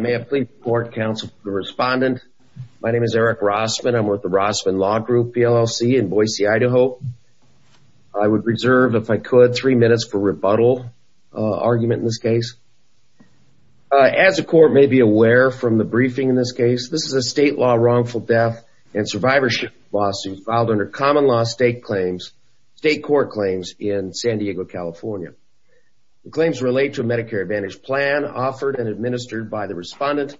May I please report, counsel to the respondent. My name is Eric Rossman. I'm with the Rossman Law Group, PLLC, in Boise, Idaho. I would reserve, if I could, three minutes for rebuttal argument in this case. As the court may be aware from the briefing in this case, this is a state law wrongful death and survivorship lawsuit filed under common law state claims, state court claims in San Diego, California. The claims relate to a Medicare Advantage plan offered and administered by the respondent,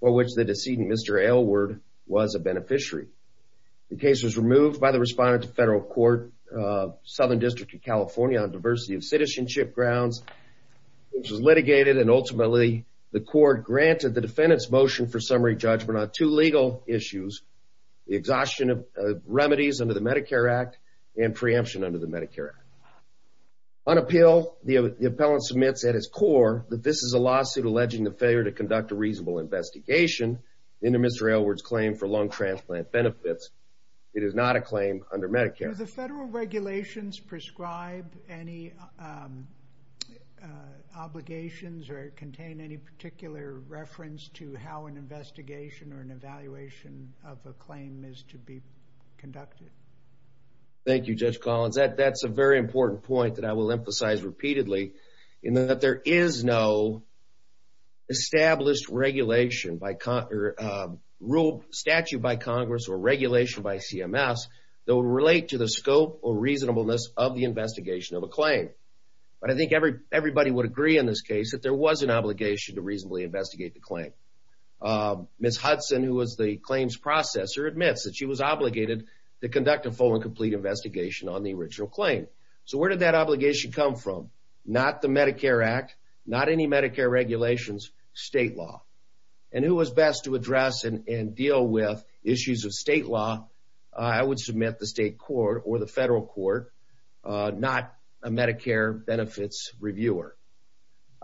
for which the decedent, Mr. Aylward, was a beneficiary. The case was removed by the respondent to federal court, Southern District of California, on diversity of citizenship grounds, which was litigated. And ultimately, the court granted the defendant's motion for summary judgment on two legal issues, the exhaustion of remedies under the Medicare Act and preemption under the Medicare Act. On appeal, the appellant submits at its core that this is a lawsuit alleging the failure to conduct a reasonable investigation into Mr. Aylward's claim for lung transplant benefits. It is not a claim under Medicare. Do the federal regulations prescribe any obligations or contain any particular reference to how an investigation or an evaluation of a claim is to be conducted? Thank you, Judge Collins. That's a very important point that I will emphasize repeatedly in that there is no established regulation by... ruled statute by Congress or regulation by CMS that would relate to the scope or reasonableness of the investigation of a claim. But I think everybody would agree in this case that there was an obligation to reasonably investigate the claim. Ms. Hudson, who was the claims processor, admits that she was obligated to conduct a full and complete investigation on the original claim. So where did that obligation come from? Not the Medicare Act, not any Medicare regulations, state law. And who was best to address and deal with issues of state law? I would submit the state court or the federal court, not a Medicare benefits reviewer.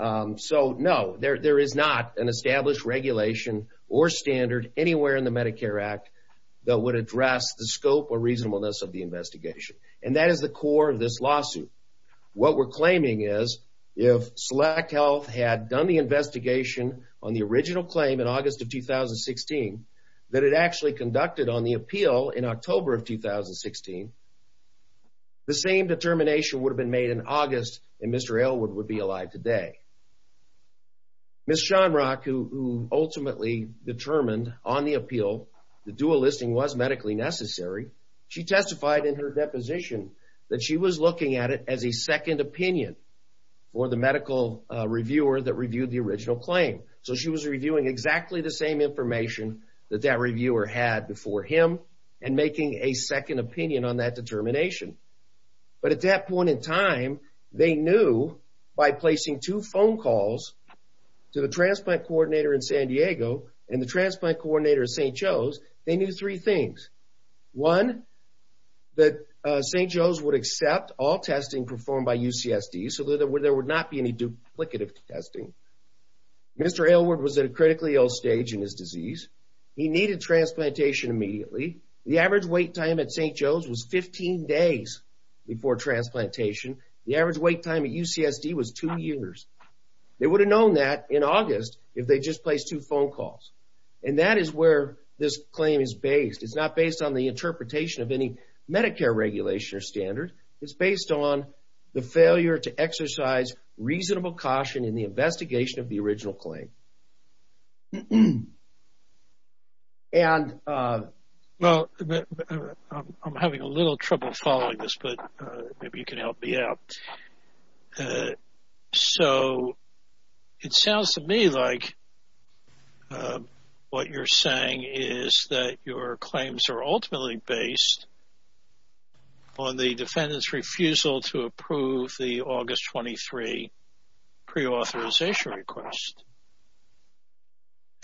So, no, there is not an established regulation or standard anywhere in the Medicare Act that would address the scope or reasonableness of the investigation. And that is the core of this lawsuit. What we're claiming is, if SelectHealth had done the investigation on the original claim in August of 2016, that it actually conducted on the appeal in October of 2016, the same determination would have been made in August and Mr. Aylward would be alive today. Ms. Shonrock, who ultimately determined on the appeal the dual listing was medically necessary, she testified in her deposition that she was looking at it as a second opinion for the medical reviewer that reviewed the original claim. So she was reviewing exactly the same information that that reviewer had before him and making a second opinion on that determination. But at that point in time, they knew by placing two phone calls to the transplant coordinator in San Diego and the transplant coordinator at St. Joe's, they knew three things. One, that St. Joe's would accept all testing performed by UCSD, so that there would not be any duplicative testing. Mr. Aylward was at a critically ill stage in his disease. He needed transplantation immediately. The average wait time at St. Joe's was 15 days before transplantation. The average wait time at UCSD was two years. They would have known that in August if they just placed two phone calls. And that is where this claim is based. It's not based on the interpretation of any Medicare regulation or standard. It's based on the failure to exercise reasonable caution in the investigation of the original claim. And... Well, I'm having a little trouble following this, but maybe you can help me out. So it sounds to me like what you're saying is that your claims are ultimately based on the defendant's refusal to approve the August 23 pre-authorization request.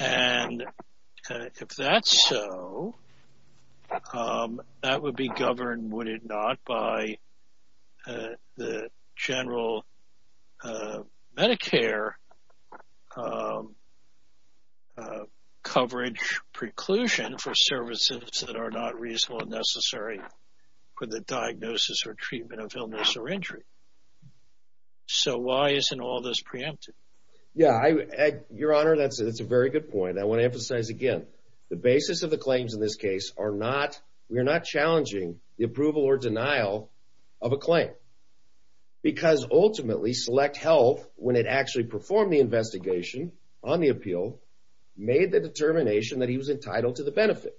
And if that's so, that would be governed, would it not, by the general Medicare coverage preclusion for services that are not reasonable and necessary for the diagnosis or treatment of illness or injury. So why isn't all this preempted? Yeah, Your Honor, that's a very good point. I want to emphasize again, the basis of the claims in this case are not, we are not challenging the approval or denial of a claim. Because ultimately Select Health, when it actually performed the investigation on the appeal, made the determination that he was entitled to the benefit.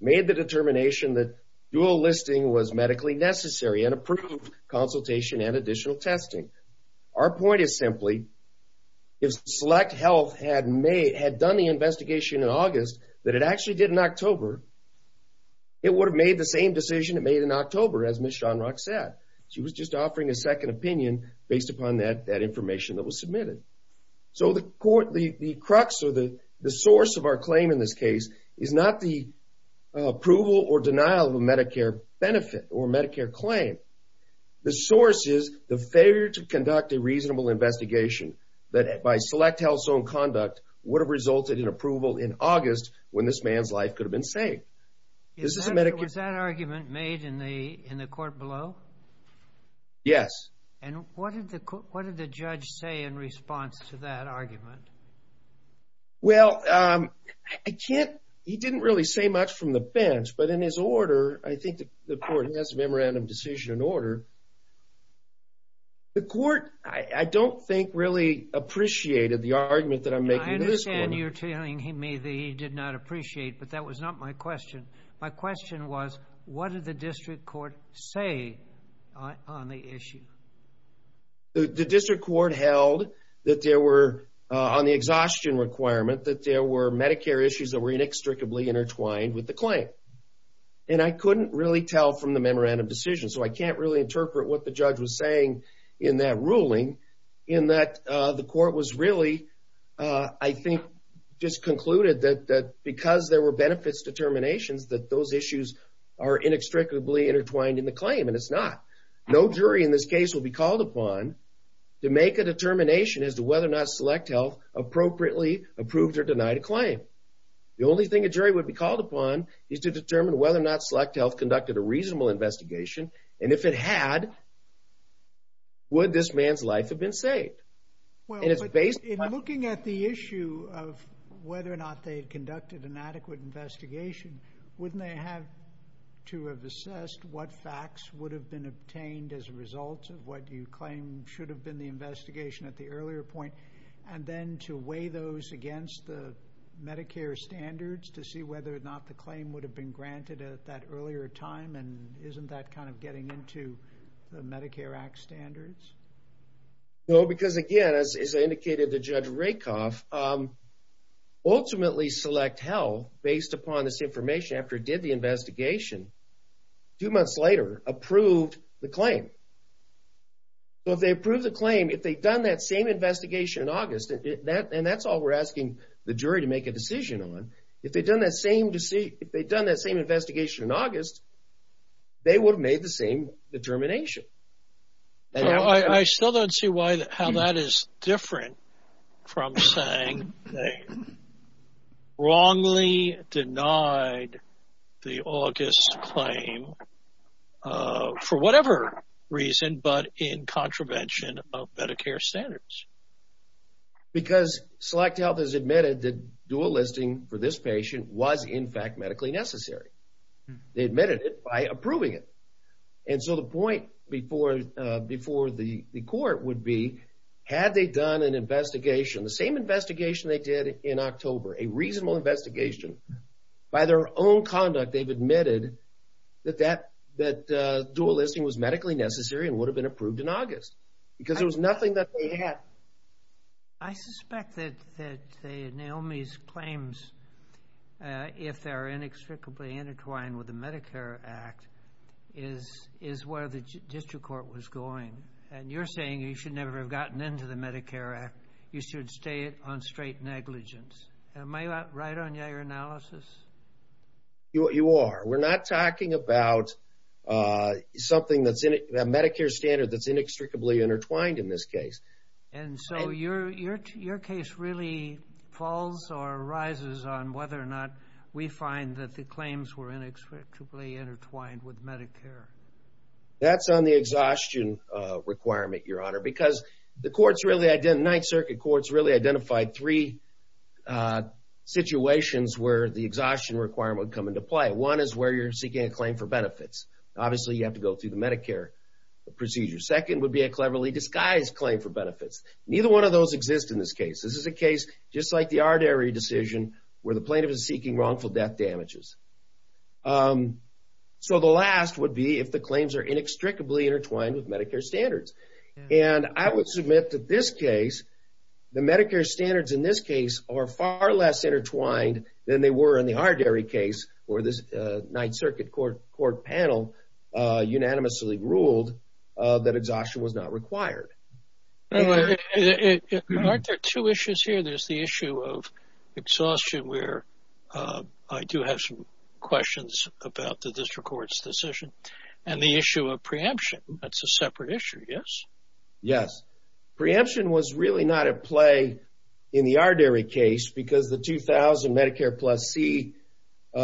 Made the determination that dual listing was medically necessary and approved consultation and additional testing. Our point is simply, if Select Health had done the investigation in August, that it actually did in October, it would have made the same decision it made in October, as Ms. Schonrock said. She was just offering a second opinion based upon that information that was submitted. So the crux or the source of our claim in this case is not the approval or denial of a Medicare benefit or Medicare claim. The source is the failure to conduct a reasonable investigation that by Select Health's own conduct would have resulted in approval in August when this man's life could have been saved. This is a Medicare- Was that argument made in the court below? Yes. And what did the judge say in response to that argument? Well, I can't- He didn't really say much from the bench, but in his order, I think the court has a memorandum decision in order. The court, I don't think, really appreciated the argument that I'm making to this court. I understand you're telling me that he did not appreciate, but that was not my question. My question was, what did the district court say on the issue? The district court held that there were, on the exhaustion requirement, that there were Medicare issues that were inextricably intertwined with the claim. And I couldn't really tell from the memorandum decision, so I can't really interpret what the judge was saying in that ruling, in that the court was really, I think, just concluded that because there were benefits determinations, that those issues are inextricably intertwined in the claim, and it's not. No jury in this case will be called upon to make a determination as to whether or not SelectHealth appropriately approved or denied a claim. The only thing a jury would be called upon is to determine whether or not SelectHealth conducted a reasonable investigation, and if it had, would this man's life have been saved? Well, in looking at the issue of whether or not they had conducted an adequate investigation, wouldn't they have to have assessed what facts would have been obtained as a result of what you claim should have been the investigation at the earlier point, and then to weigh those against the Medicare standards to see whether or not the claim would have been granted at that earlier time? And isn't that kind of getting into the Medicare Act standards? No, because again, as I indicated to Judge Rakoff, ultimately SelectHealth, based upon this information after it did the investigation, two months later approved the claim. So if they approved the claim, if they'd done that same investigation in August, and that's all we're asking the jury to make a decision on, if they'd done that same investigation in August, they would have made the same determination. I still don't see how that is different from saying they wrongly denied the August claim for whatever reason, but in contravention of Medicare standards. Because SelectHealth has admitted that dual listing for this patient was in fact medically necessary. They admitted it by approving it. And so the point before the court would be, had they done an investigation, the same investigation they did in October, a reasonable investigation, by their own conduct they've admitted that dual listing was medically necessary and would have been approved in August. Because there was nothing that they had. I suspect that Naomi's claims, if they're inextricably intertwined with the Medicare Act, is where the district court was going. And you're saying you should never have gotten into the Medicare Act. You should stay on straight negligence. Am I right on your analysis? You are. We're not talking about something that's in it, the Medicare standard that's inextricably intertwined in this case. And so your case really falls or rises on whether or not we find that the claims were inextricably intertwined with Medicare. That's on the exhaustion requirement, Your Honor, because the courts really, Ninth Circuit courts really identified three situations where the exhaustion requirement would come into play. One is where you're seeking a claim for benefits. Obviously you have to go through the Medicare procedure. Second would be a cleverly disguised claim for benefits. Neither one of those exist in this case. This is a case just like the artery decision where the plaintiff is seeking wrongful death damages. So the last would be if the claims are inextricably intertwined with Medicare standards. And I would submit that this case, the Medicare standards in this case are far less intertwined than they were in the artery case where this Ninth Circuit court panel unanimously ruled that exhaustion was not required. Aren't there two issues here? There's the issue of exhaustion where I do have some questions about the district court's decision and the issue of preemption. That's a separate issue, yes? Yes. Preemption was really not at play in the artery case because the 2000 Medicare Plus C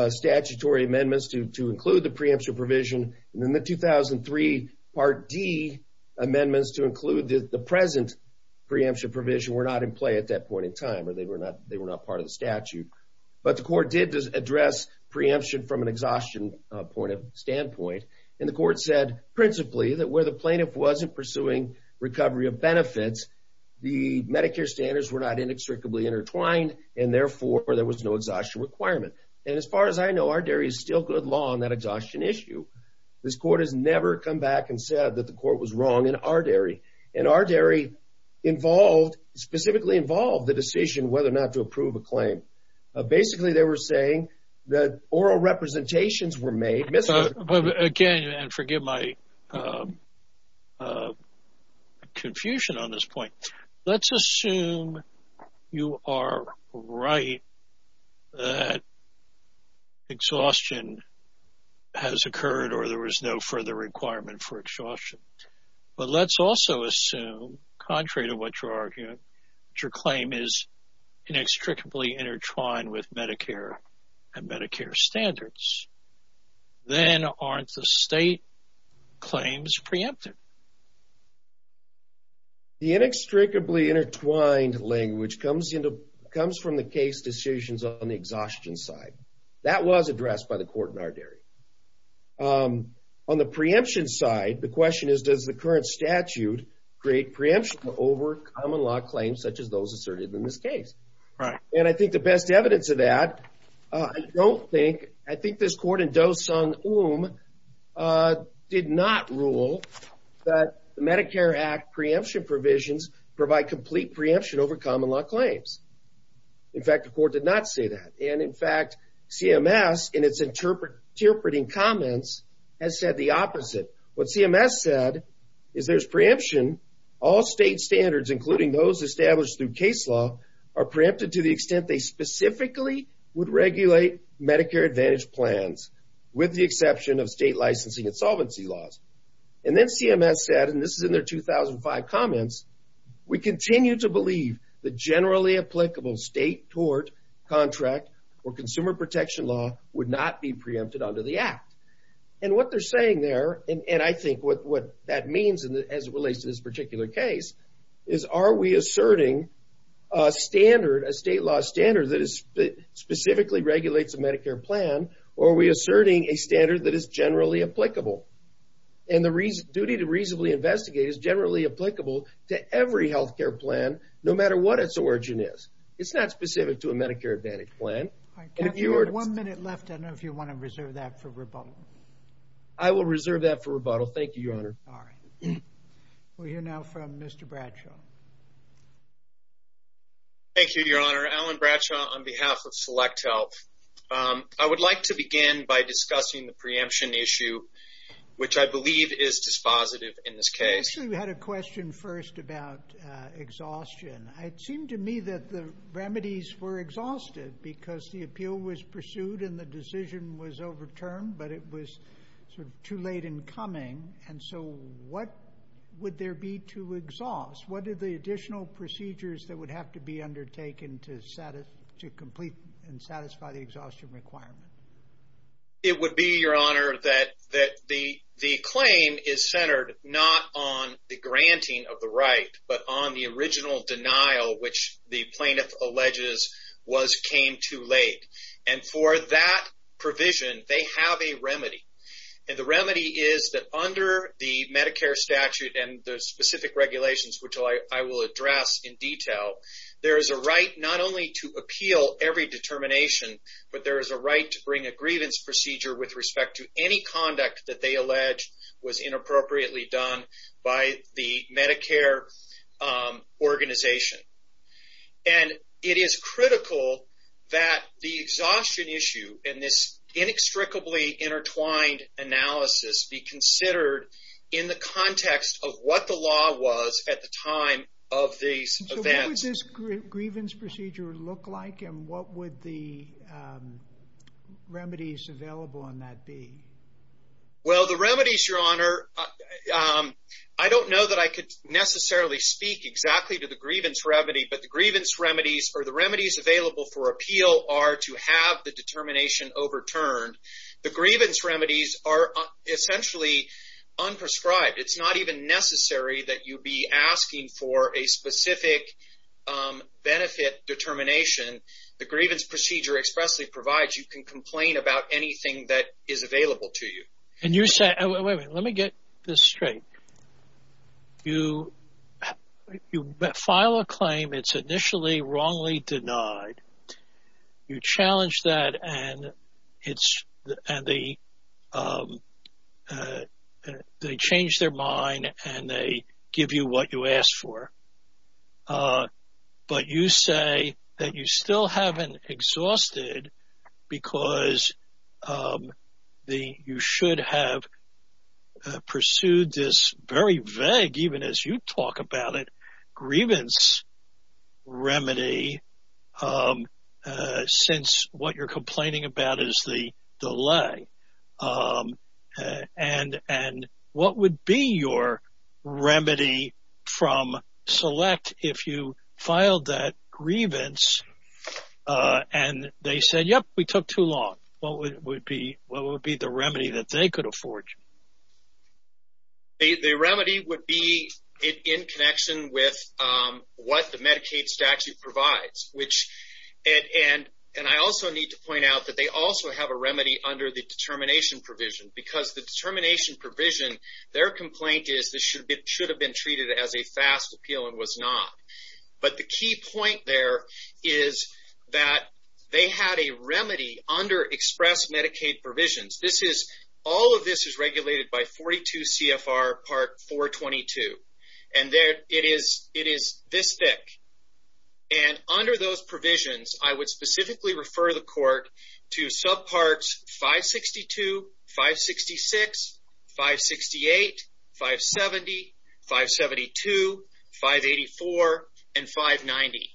statutory amendments to include the preemption provision and then the 2003 Part D amendments to include the present preemption provision were not in play at that point in time or they were not part of the statute. But the court did address preemption from an exhaustion standpoint. And the court said principally that where the plaintiff wasn't pursuing recovery of benefits, the Medicare standards were not inextricably intertwined and therefore there was no exhaustion requirement. And as far as I know, our dairy is still good law on that exhaustion issue. This court has never come back and said that the court was wrong in our dairy. And our dairy involved, specifically involved the decision whether or not to approve a claim. Basically, they were saying that oral representations were made. But again, and forgive my confusion on this point, let's assume you are right that exhaustion has occurred or there was no further requirement for exhaustion. But let's also assume, contrary to what you're arguing, your claim is inextricably intertwined with Medicare and Medicare standards. Then aren't the state claims preempted? The inextricably intertwined language comes from the case decisions on the exhaustion side. That was addressed by the court in our dairy. On the preemption side, the question is does the current statute create preemption over common law claims such as those asserted in this case? And I think the best evidence of that, I think this court in Doson Oum did not rule that the Medicare Act preemption provisions provide complete preemption over common law claims. In fact, the court did not say that. And in fact, CMS in its interpreting comments has said the opposite. What CMS said is there's preemption, all state standards, including those established through case law are preempted to the extent they specifically would regulate Medicare Advantage plans with the exception of state licensing and solvency laws. And then CMS said, and this is in their 2005 comments, we continue to believe the generally applicable state tort contract or consumer protection law would not be preempted under the act. And what they're saying there, and I think what that means as it relates to this particular case, is are we asserting a standard, a state law standard that specifically regulates a Medicare plan, or are we asserting a standard that is generally applicable? And the duty to reasonably investigate is generally applicable to every healthcare plan, no matter what its origin is. It's not specific to a Medicare Advantage plan. And if you're- One minute left, I don't know if you want to reserve that for rebuttal. I will reserve that for rebuttal. Thank you, Your Honor. All right. We'll hear now from Mr. Bradshaw. Thank you, Your Honor. Alan Bradshaw on behalf of Select Health. I would like to begin by discussing the preemption issue, which I believe is dispositive in this case. Actually, we had a question first about exhaustion. It seemed to me that the remedies were exhausted because the appeal was pursued and the decision was overturned, but it was sort of too late in coming. And so what would there be to exhaust? What are the additional procedures that would have to be undertaken to complete and satisfy the exhaustion requirement? It would be, Your Honor, that the claim is centered not on the granting of the right, but on the original denial, which the plaintiff alleges came too late. And for that provision, they have a remedy. And the remedy is that under the Medicare statute and the specific regulations, which I will address in detail, there is a right not only to appeal every determination, but there is a right to bring a grievance procedure with respect to any conduct that they allege was inappropriately done by the Medicare organization. And it is critical that the exhaustion issue in this inextricably intertwined analysis be considered in the context of what the law was at the time of these events. So what would this grievance procedure look like and what would the remedies available on that be? Well, the remedies, Your Honor, I don't know that I could necessarily speak exactly to the grievance remedy, but the grievance remedies or the remedies available for appeal are to have the determination overturned. The grievance remedies are essentially unprescribed. It's not even necessary that you be asking for a specific benefit determination. The grievance procedure expressly provides you can complain about anything that is available to you. And you're saying, wait, wait, let me get this straight. You file a claim, it's initially wrongly denied. You challenge that and they change their mind and they give you what you asked for. But you say that you still haven't exhausted because you should have pursued this very vague, even as you talk about it, grievance remedy since what you're complaining about is the delay. And what would be your remedy from select if you filed that grievance and they said, yep, we took too long. What would be the remedy that they could afford you? The remedy would be in connection with what the Medicaid statute provides, which, and I also need to point out that they also have a remedy under the determination provision because the determination provision, their complaint is this should have been treated as a fast appeal and was not. But the key point there is that they had a remedy under express Medicaid provisions. This is, all of this is regulated by 42 CFR part 422. And it is this thick. And under those provisions, I would specifically refer the court to subparts 562, 566, 568, 570, 572, 584 and 590.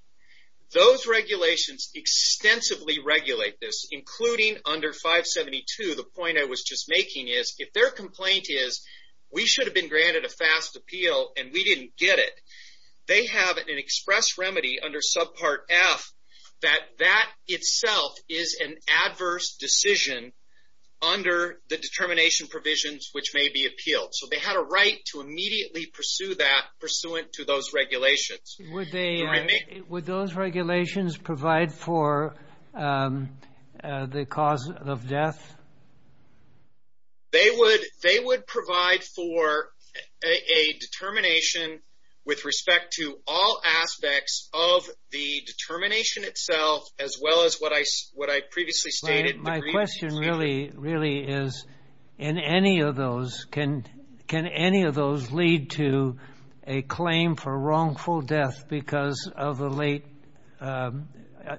Those regulations extensively regulate this, including under 572, the point I was just making is if their complaint is, we should have been granted a fast appeal and we didn't get it. They have an express remedy under subpart F that that itself is an adverse decision under the determination provisions, which may be appealed. So they had a right to immediately pursue that pursuant to those regulations. Would those regulations provide for the cause of death? They would provide for a determination with respect to all aspects of the determination itself, as well as what I previously stated. My question really is in any of those, can any of those lead to a claim for wrongful death because of the late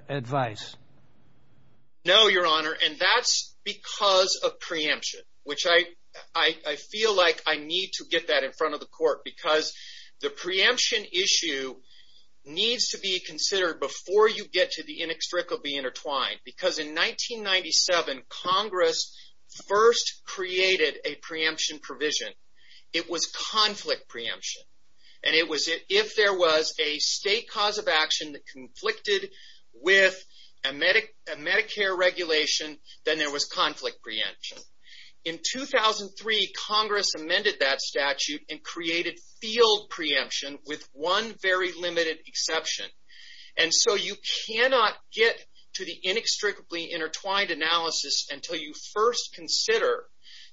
advice? No, your honor. And that's because of preemption, which I feel like I need to get that in front of the court because the preemption issue needs to be considered before you get to the inextricably intertwined because in 1997, Congress first created a preemption provision. It was conflict preemption. And it was if there was a state cause of action that conflicted with a Medicare regulation, then there was conflict preemption. In 2003, Congress amended that statute and created field preemption with one very limited exception. And so you cannot get to the inextricably intertwined analysis until you first consider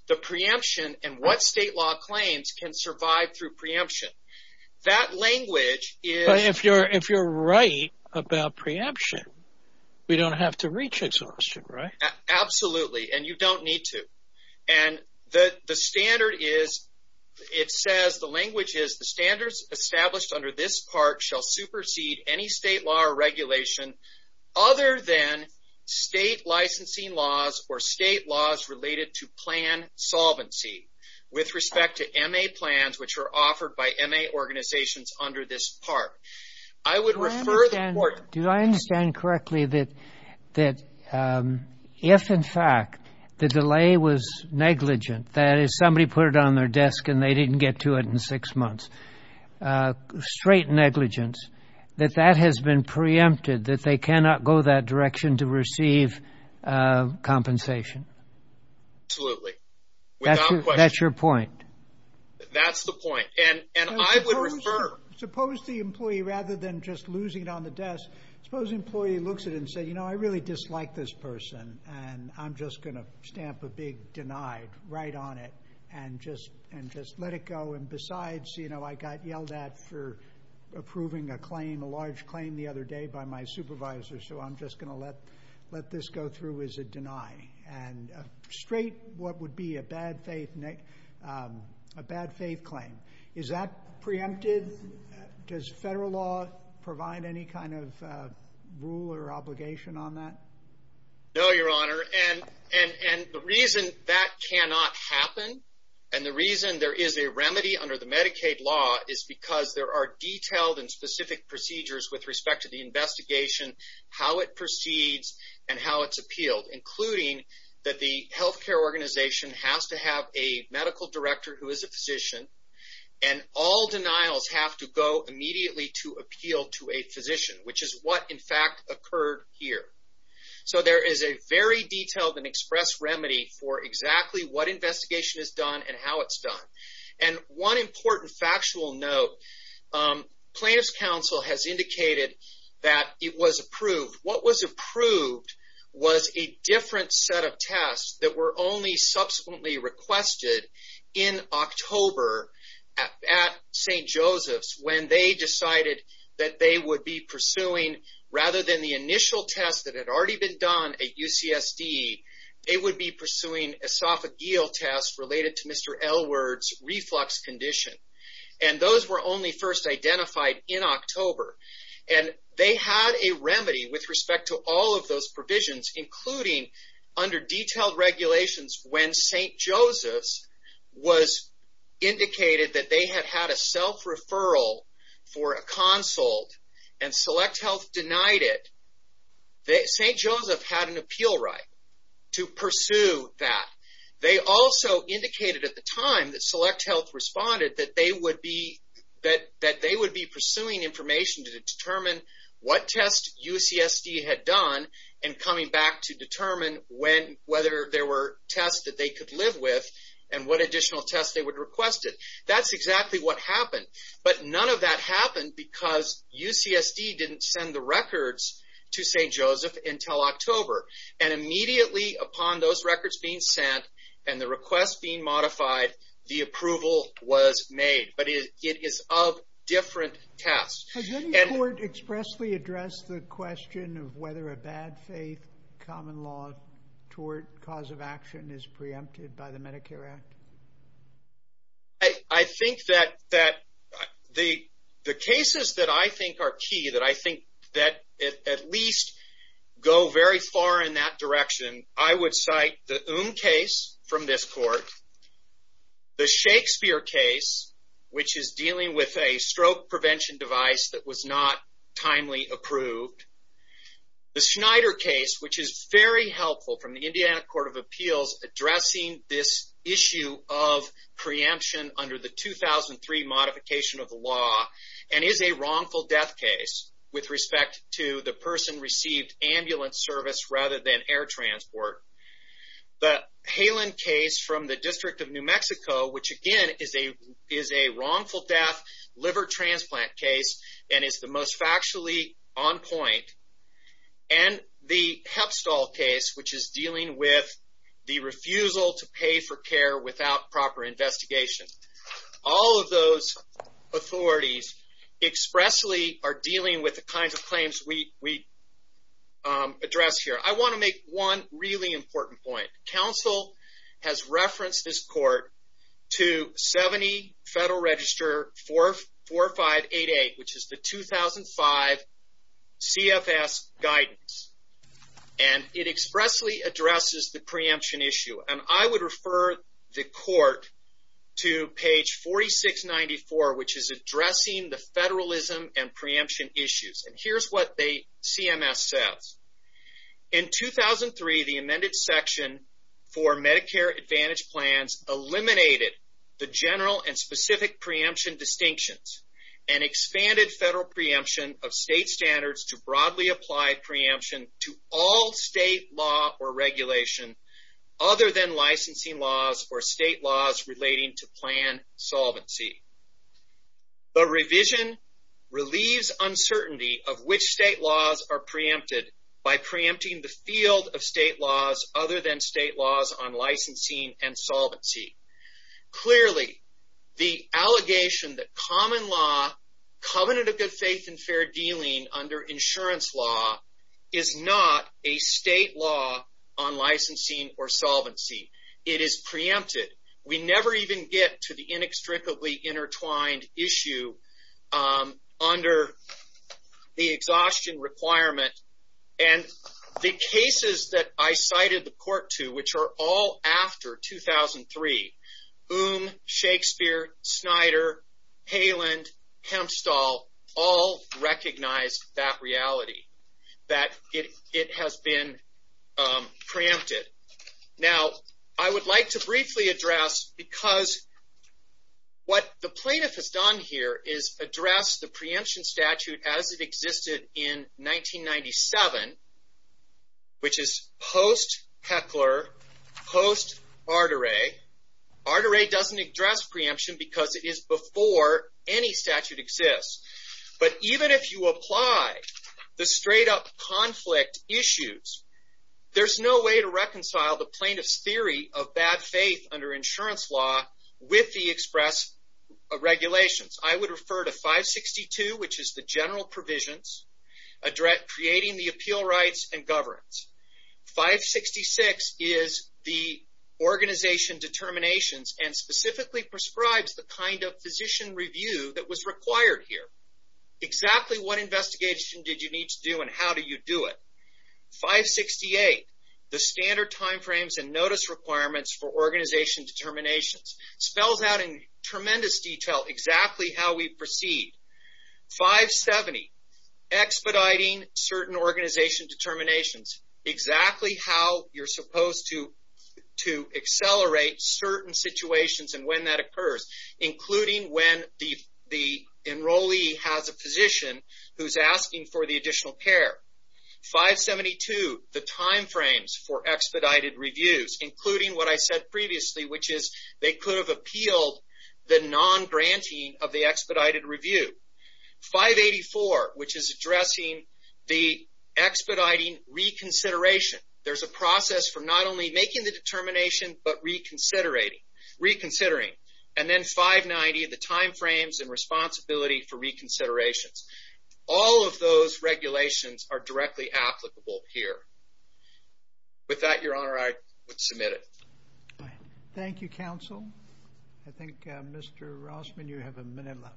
the preemption and what state law claims can survive through preemption. That language is- But if you're right about preemption, we don't have to reach exhaustion, right? Absolutely. And you don't need to. And the standard is, it says, the language is, the standards established under this part shall supersede any state law or regulation other than state licensing laws or state laws related to plan solvency with respect to MA plans, which are offered by MA organizations under this part. I would refer the court- Do I understand correctly that if in fact the delay was negligent, that is, somebody put it on their desk and they didn't get to it in six months, straight negligence, that that has been preempted, that they cannot go that direction to receive compensation? Absolutely. Without question. That's your point. That's the point. And I would refer- Suppose the employee, rather than just losing it on the desk, suppose the employee looks at it and says, you know, I really dislike this person and I'm just going to stamp a big denied right on it and just let it go. And besides, you know, I got yelled at for approving a claim, a large claim the other day by my supervisor. So I'm just going to let this go through as a deny and a straight, what would be a bad faith, a bad faith claim. Is that preempted? Does federal law provide any kind of rule or obligation on that? No, your honor. And the reason that cannot happen and the reason there is a remedy under the Medicaid law is because there are detailed and specific procedures with respect to the investigation, how it proceeds and how it's appealed, including that the healthcare organization has to have a medical director who is a physician and all denials have to go immediately to appeal to a physician, which is what in fact occurred here. So there is a very detailed and express remedy for exactly what investigation is done and how it's done. And one important factual note, plaintiff's counsel has indicated that it was approved. What was approved was a different set of tests that were only subsequently requested in October at St. Joseph's when they decided that they would be pursuing, rather than the initial test that had already been done at UCSD, they would be pursuing esophageal tests related to Mr. Elwood's reflux condition. And those were only first identified in October. And they had a remedy with respect to all of those provisions, including under detailed regulations when St. Joseph's was indicated that they had had a self-referral for a consult and Select Health denied it, St. Joseph had an appeal right to pursue that. They also indicated at the time that Select Health responded that they would be pursuing information to determine what test UCSD had done and coming back to determine whether there were tests that they could live with and what additional tests they would request it. That's exactly what happened. But none of that happened because UCSD didn't send the records to St. Joseph's until October. And immediately upon those records being sent and the request being modified, the approval was made, but it is of different tests. And- Has any court expressly addressed the question of whether a bad faith common law tort cause of action is preempted by the Medicare Act? I think that the cases that I think are key, that I think that at least go very far in that direction, I would cite the Oom case from this court, the Shakespeare case, which is dealing with a stroke prevention device that was not timely approved, the Schneider case, which is very helpful from the Indiana Court of Appeals addressing this issue of preemption under the 2003 modification of the law and is a wrongful death case with respect to the person received ambulance service rather than air transport. The Halen case from the District of New Mexico, which again is a wrongful death liver transplant case and is the most factually on point. And the Hepstall case, which is dealing with the refusal to pay for care without proper investigation. All of those authorities expressly are dealing with the kinds of claims we address here. I wanna make one really important point. Council has referenced this court to 70 Federal Register 4588, which is the 2005 CFS guidance. And it expressly addresses the preemption issue. And I would refer the court to page 4694, which is addressing the federalism and preemption issues. And here's what the CMS says. In 2003, the amended section for Medicare Advantage plans eliminated the general and specific preemption distinctions and expanded federal preemption of state standards to broadly apply preemption to all state law or regulation other than licensing laws or state laws relating to plan solvency. The revision relieves uncertainty of which state laws are preempted by preempting the field of state laws other than state laws on licensing and solvency. Clearly, the allegation that common law, covenant of good faith and fair dealing under insurance law is not a state law on licensing or solvency. It is preempted. We never even get to the inextricably intertwined issue under the exhaustion requirement. And the cases that I cited the court to, which are all after 2003, Boom, Shakespeare, Snyder, Haland, Kempstall, all recognize that reality, that it has been preempted. Now, I would like to briefly address because what the plaintiff has done here is address the preemption statute as it existed in 1997, which is post-Heckler, post-Ardere. Ardere doesn't address preemption because it is before any statute exists. But even if you apply the straight up conflict issues, there's no way to reconcile the plaintiff's theory of bad faith under insurance law with the express regulations. I would refer to 562, which is the general provisions address creating the appeal rights and governance. 566 is the organization determinations and specifically prescribes the kind of physician review that was required here. Exactly what investigation did you need to do and how do you do it? 568, the standard timeframes and notice requirements for organization determinations, spells out in tremendous detail exactly how we proceed. 570, expediting certain organization determinations, exactly how you're supposed to accelerate certain situations and when that occurs, including when the enrollee has a physician who's asking for the additional care. 572, the timeframes for expedited reviews, including what I said previously, which is they could have appealed the non-granting of the expedited review. 584, which is addressing the expediting reconsideration. There's a process for not only making the determination, but reconsidering. And then 590, the timeframes and responsibility for reconsiderations. All of those regulations are directly applicable here. With that, your honor, I would submit it. Thank you, counsel. I think Mr. Rossman, you have a minute left.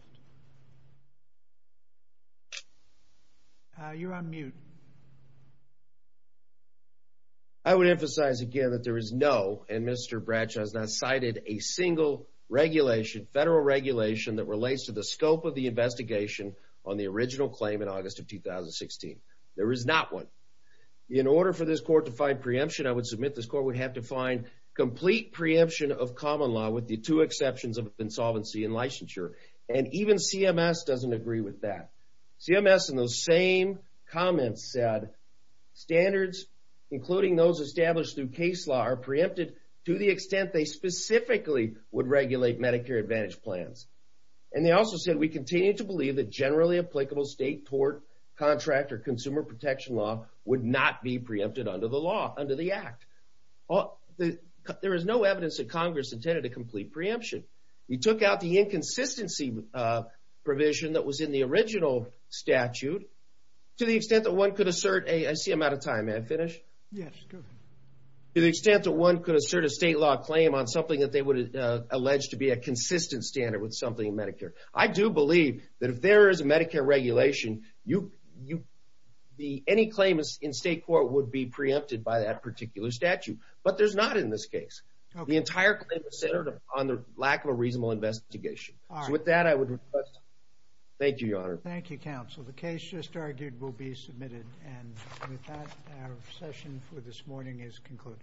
You're on mute. I would emphasize again that there is no and Mr. Bradshaw has not cited a single regulation, federal regulation that relates to the scope of the investigation on the original claim in August of 2016. There is not one. In order for this court to find preemption, I would submit this court would have to find complete preemption of common law with the two exceptions of insolvency and licensure. And even CMS doesn't agree with that. CMS in those same comments said, standards, including those established through case law are preempted to the extent they specifically would regulate Medicare Advantage plans. And they also said, we continue to believe that generally applicable state tort, contract or consumer protection law would not be preempted under the law, under the act. There is no evidence that Congress intended a complete preemption. You took out the inconsistency provision that was in the original statute to the extent that one could assert a, I see I'm out of time, may I finish? Yes, go ahead. To the extent that one could assert a state law claim on something that they would allege to be a consistent standard with something in Medicare. I do believe that if there is a Medicare regulation, any claim in state court would be preempted by that particular statute. But there's not in this case. The entire claim is centered on the lack of a reasonable investigation. So with that, I would request, thank you, Your Honor. Thank you, counsel. The case just argued will be submitted. And with that, our session for this morning is concluded.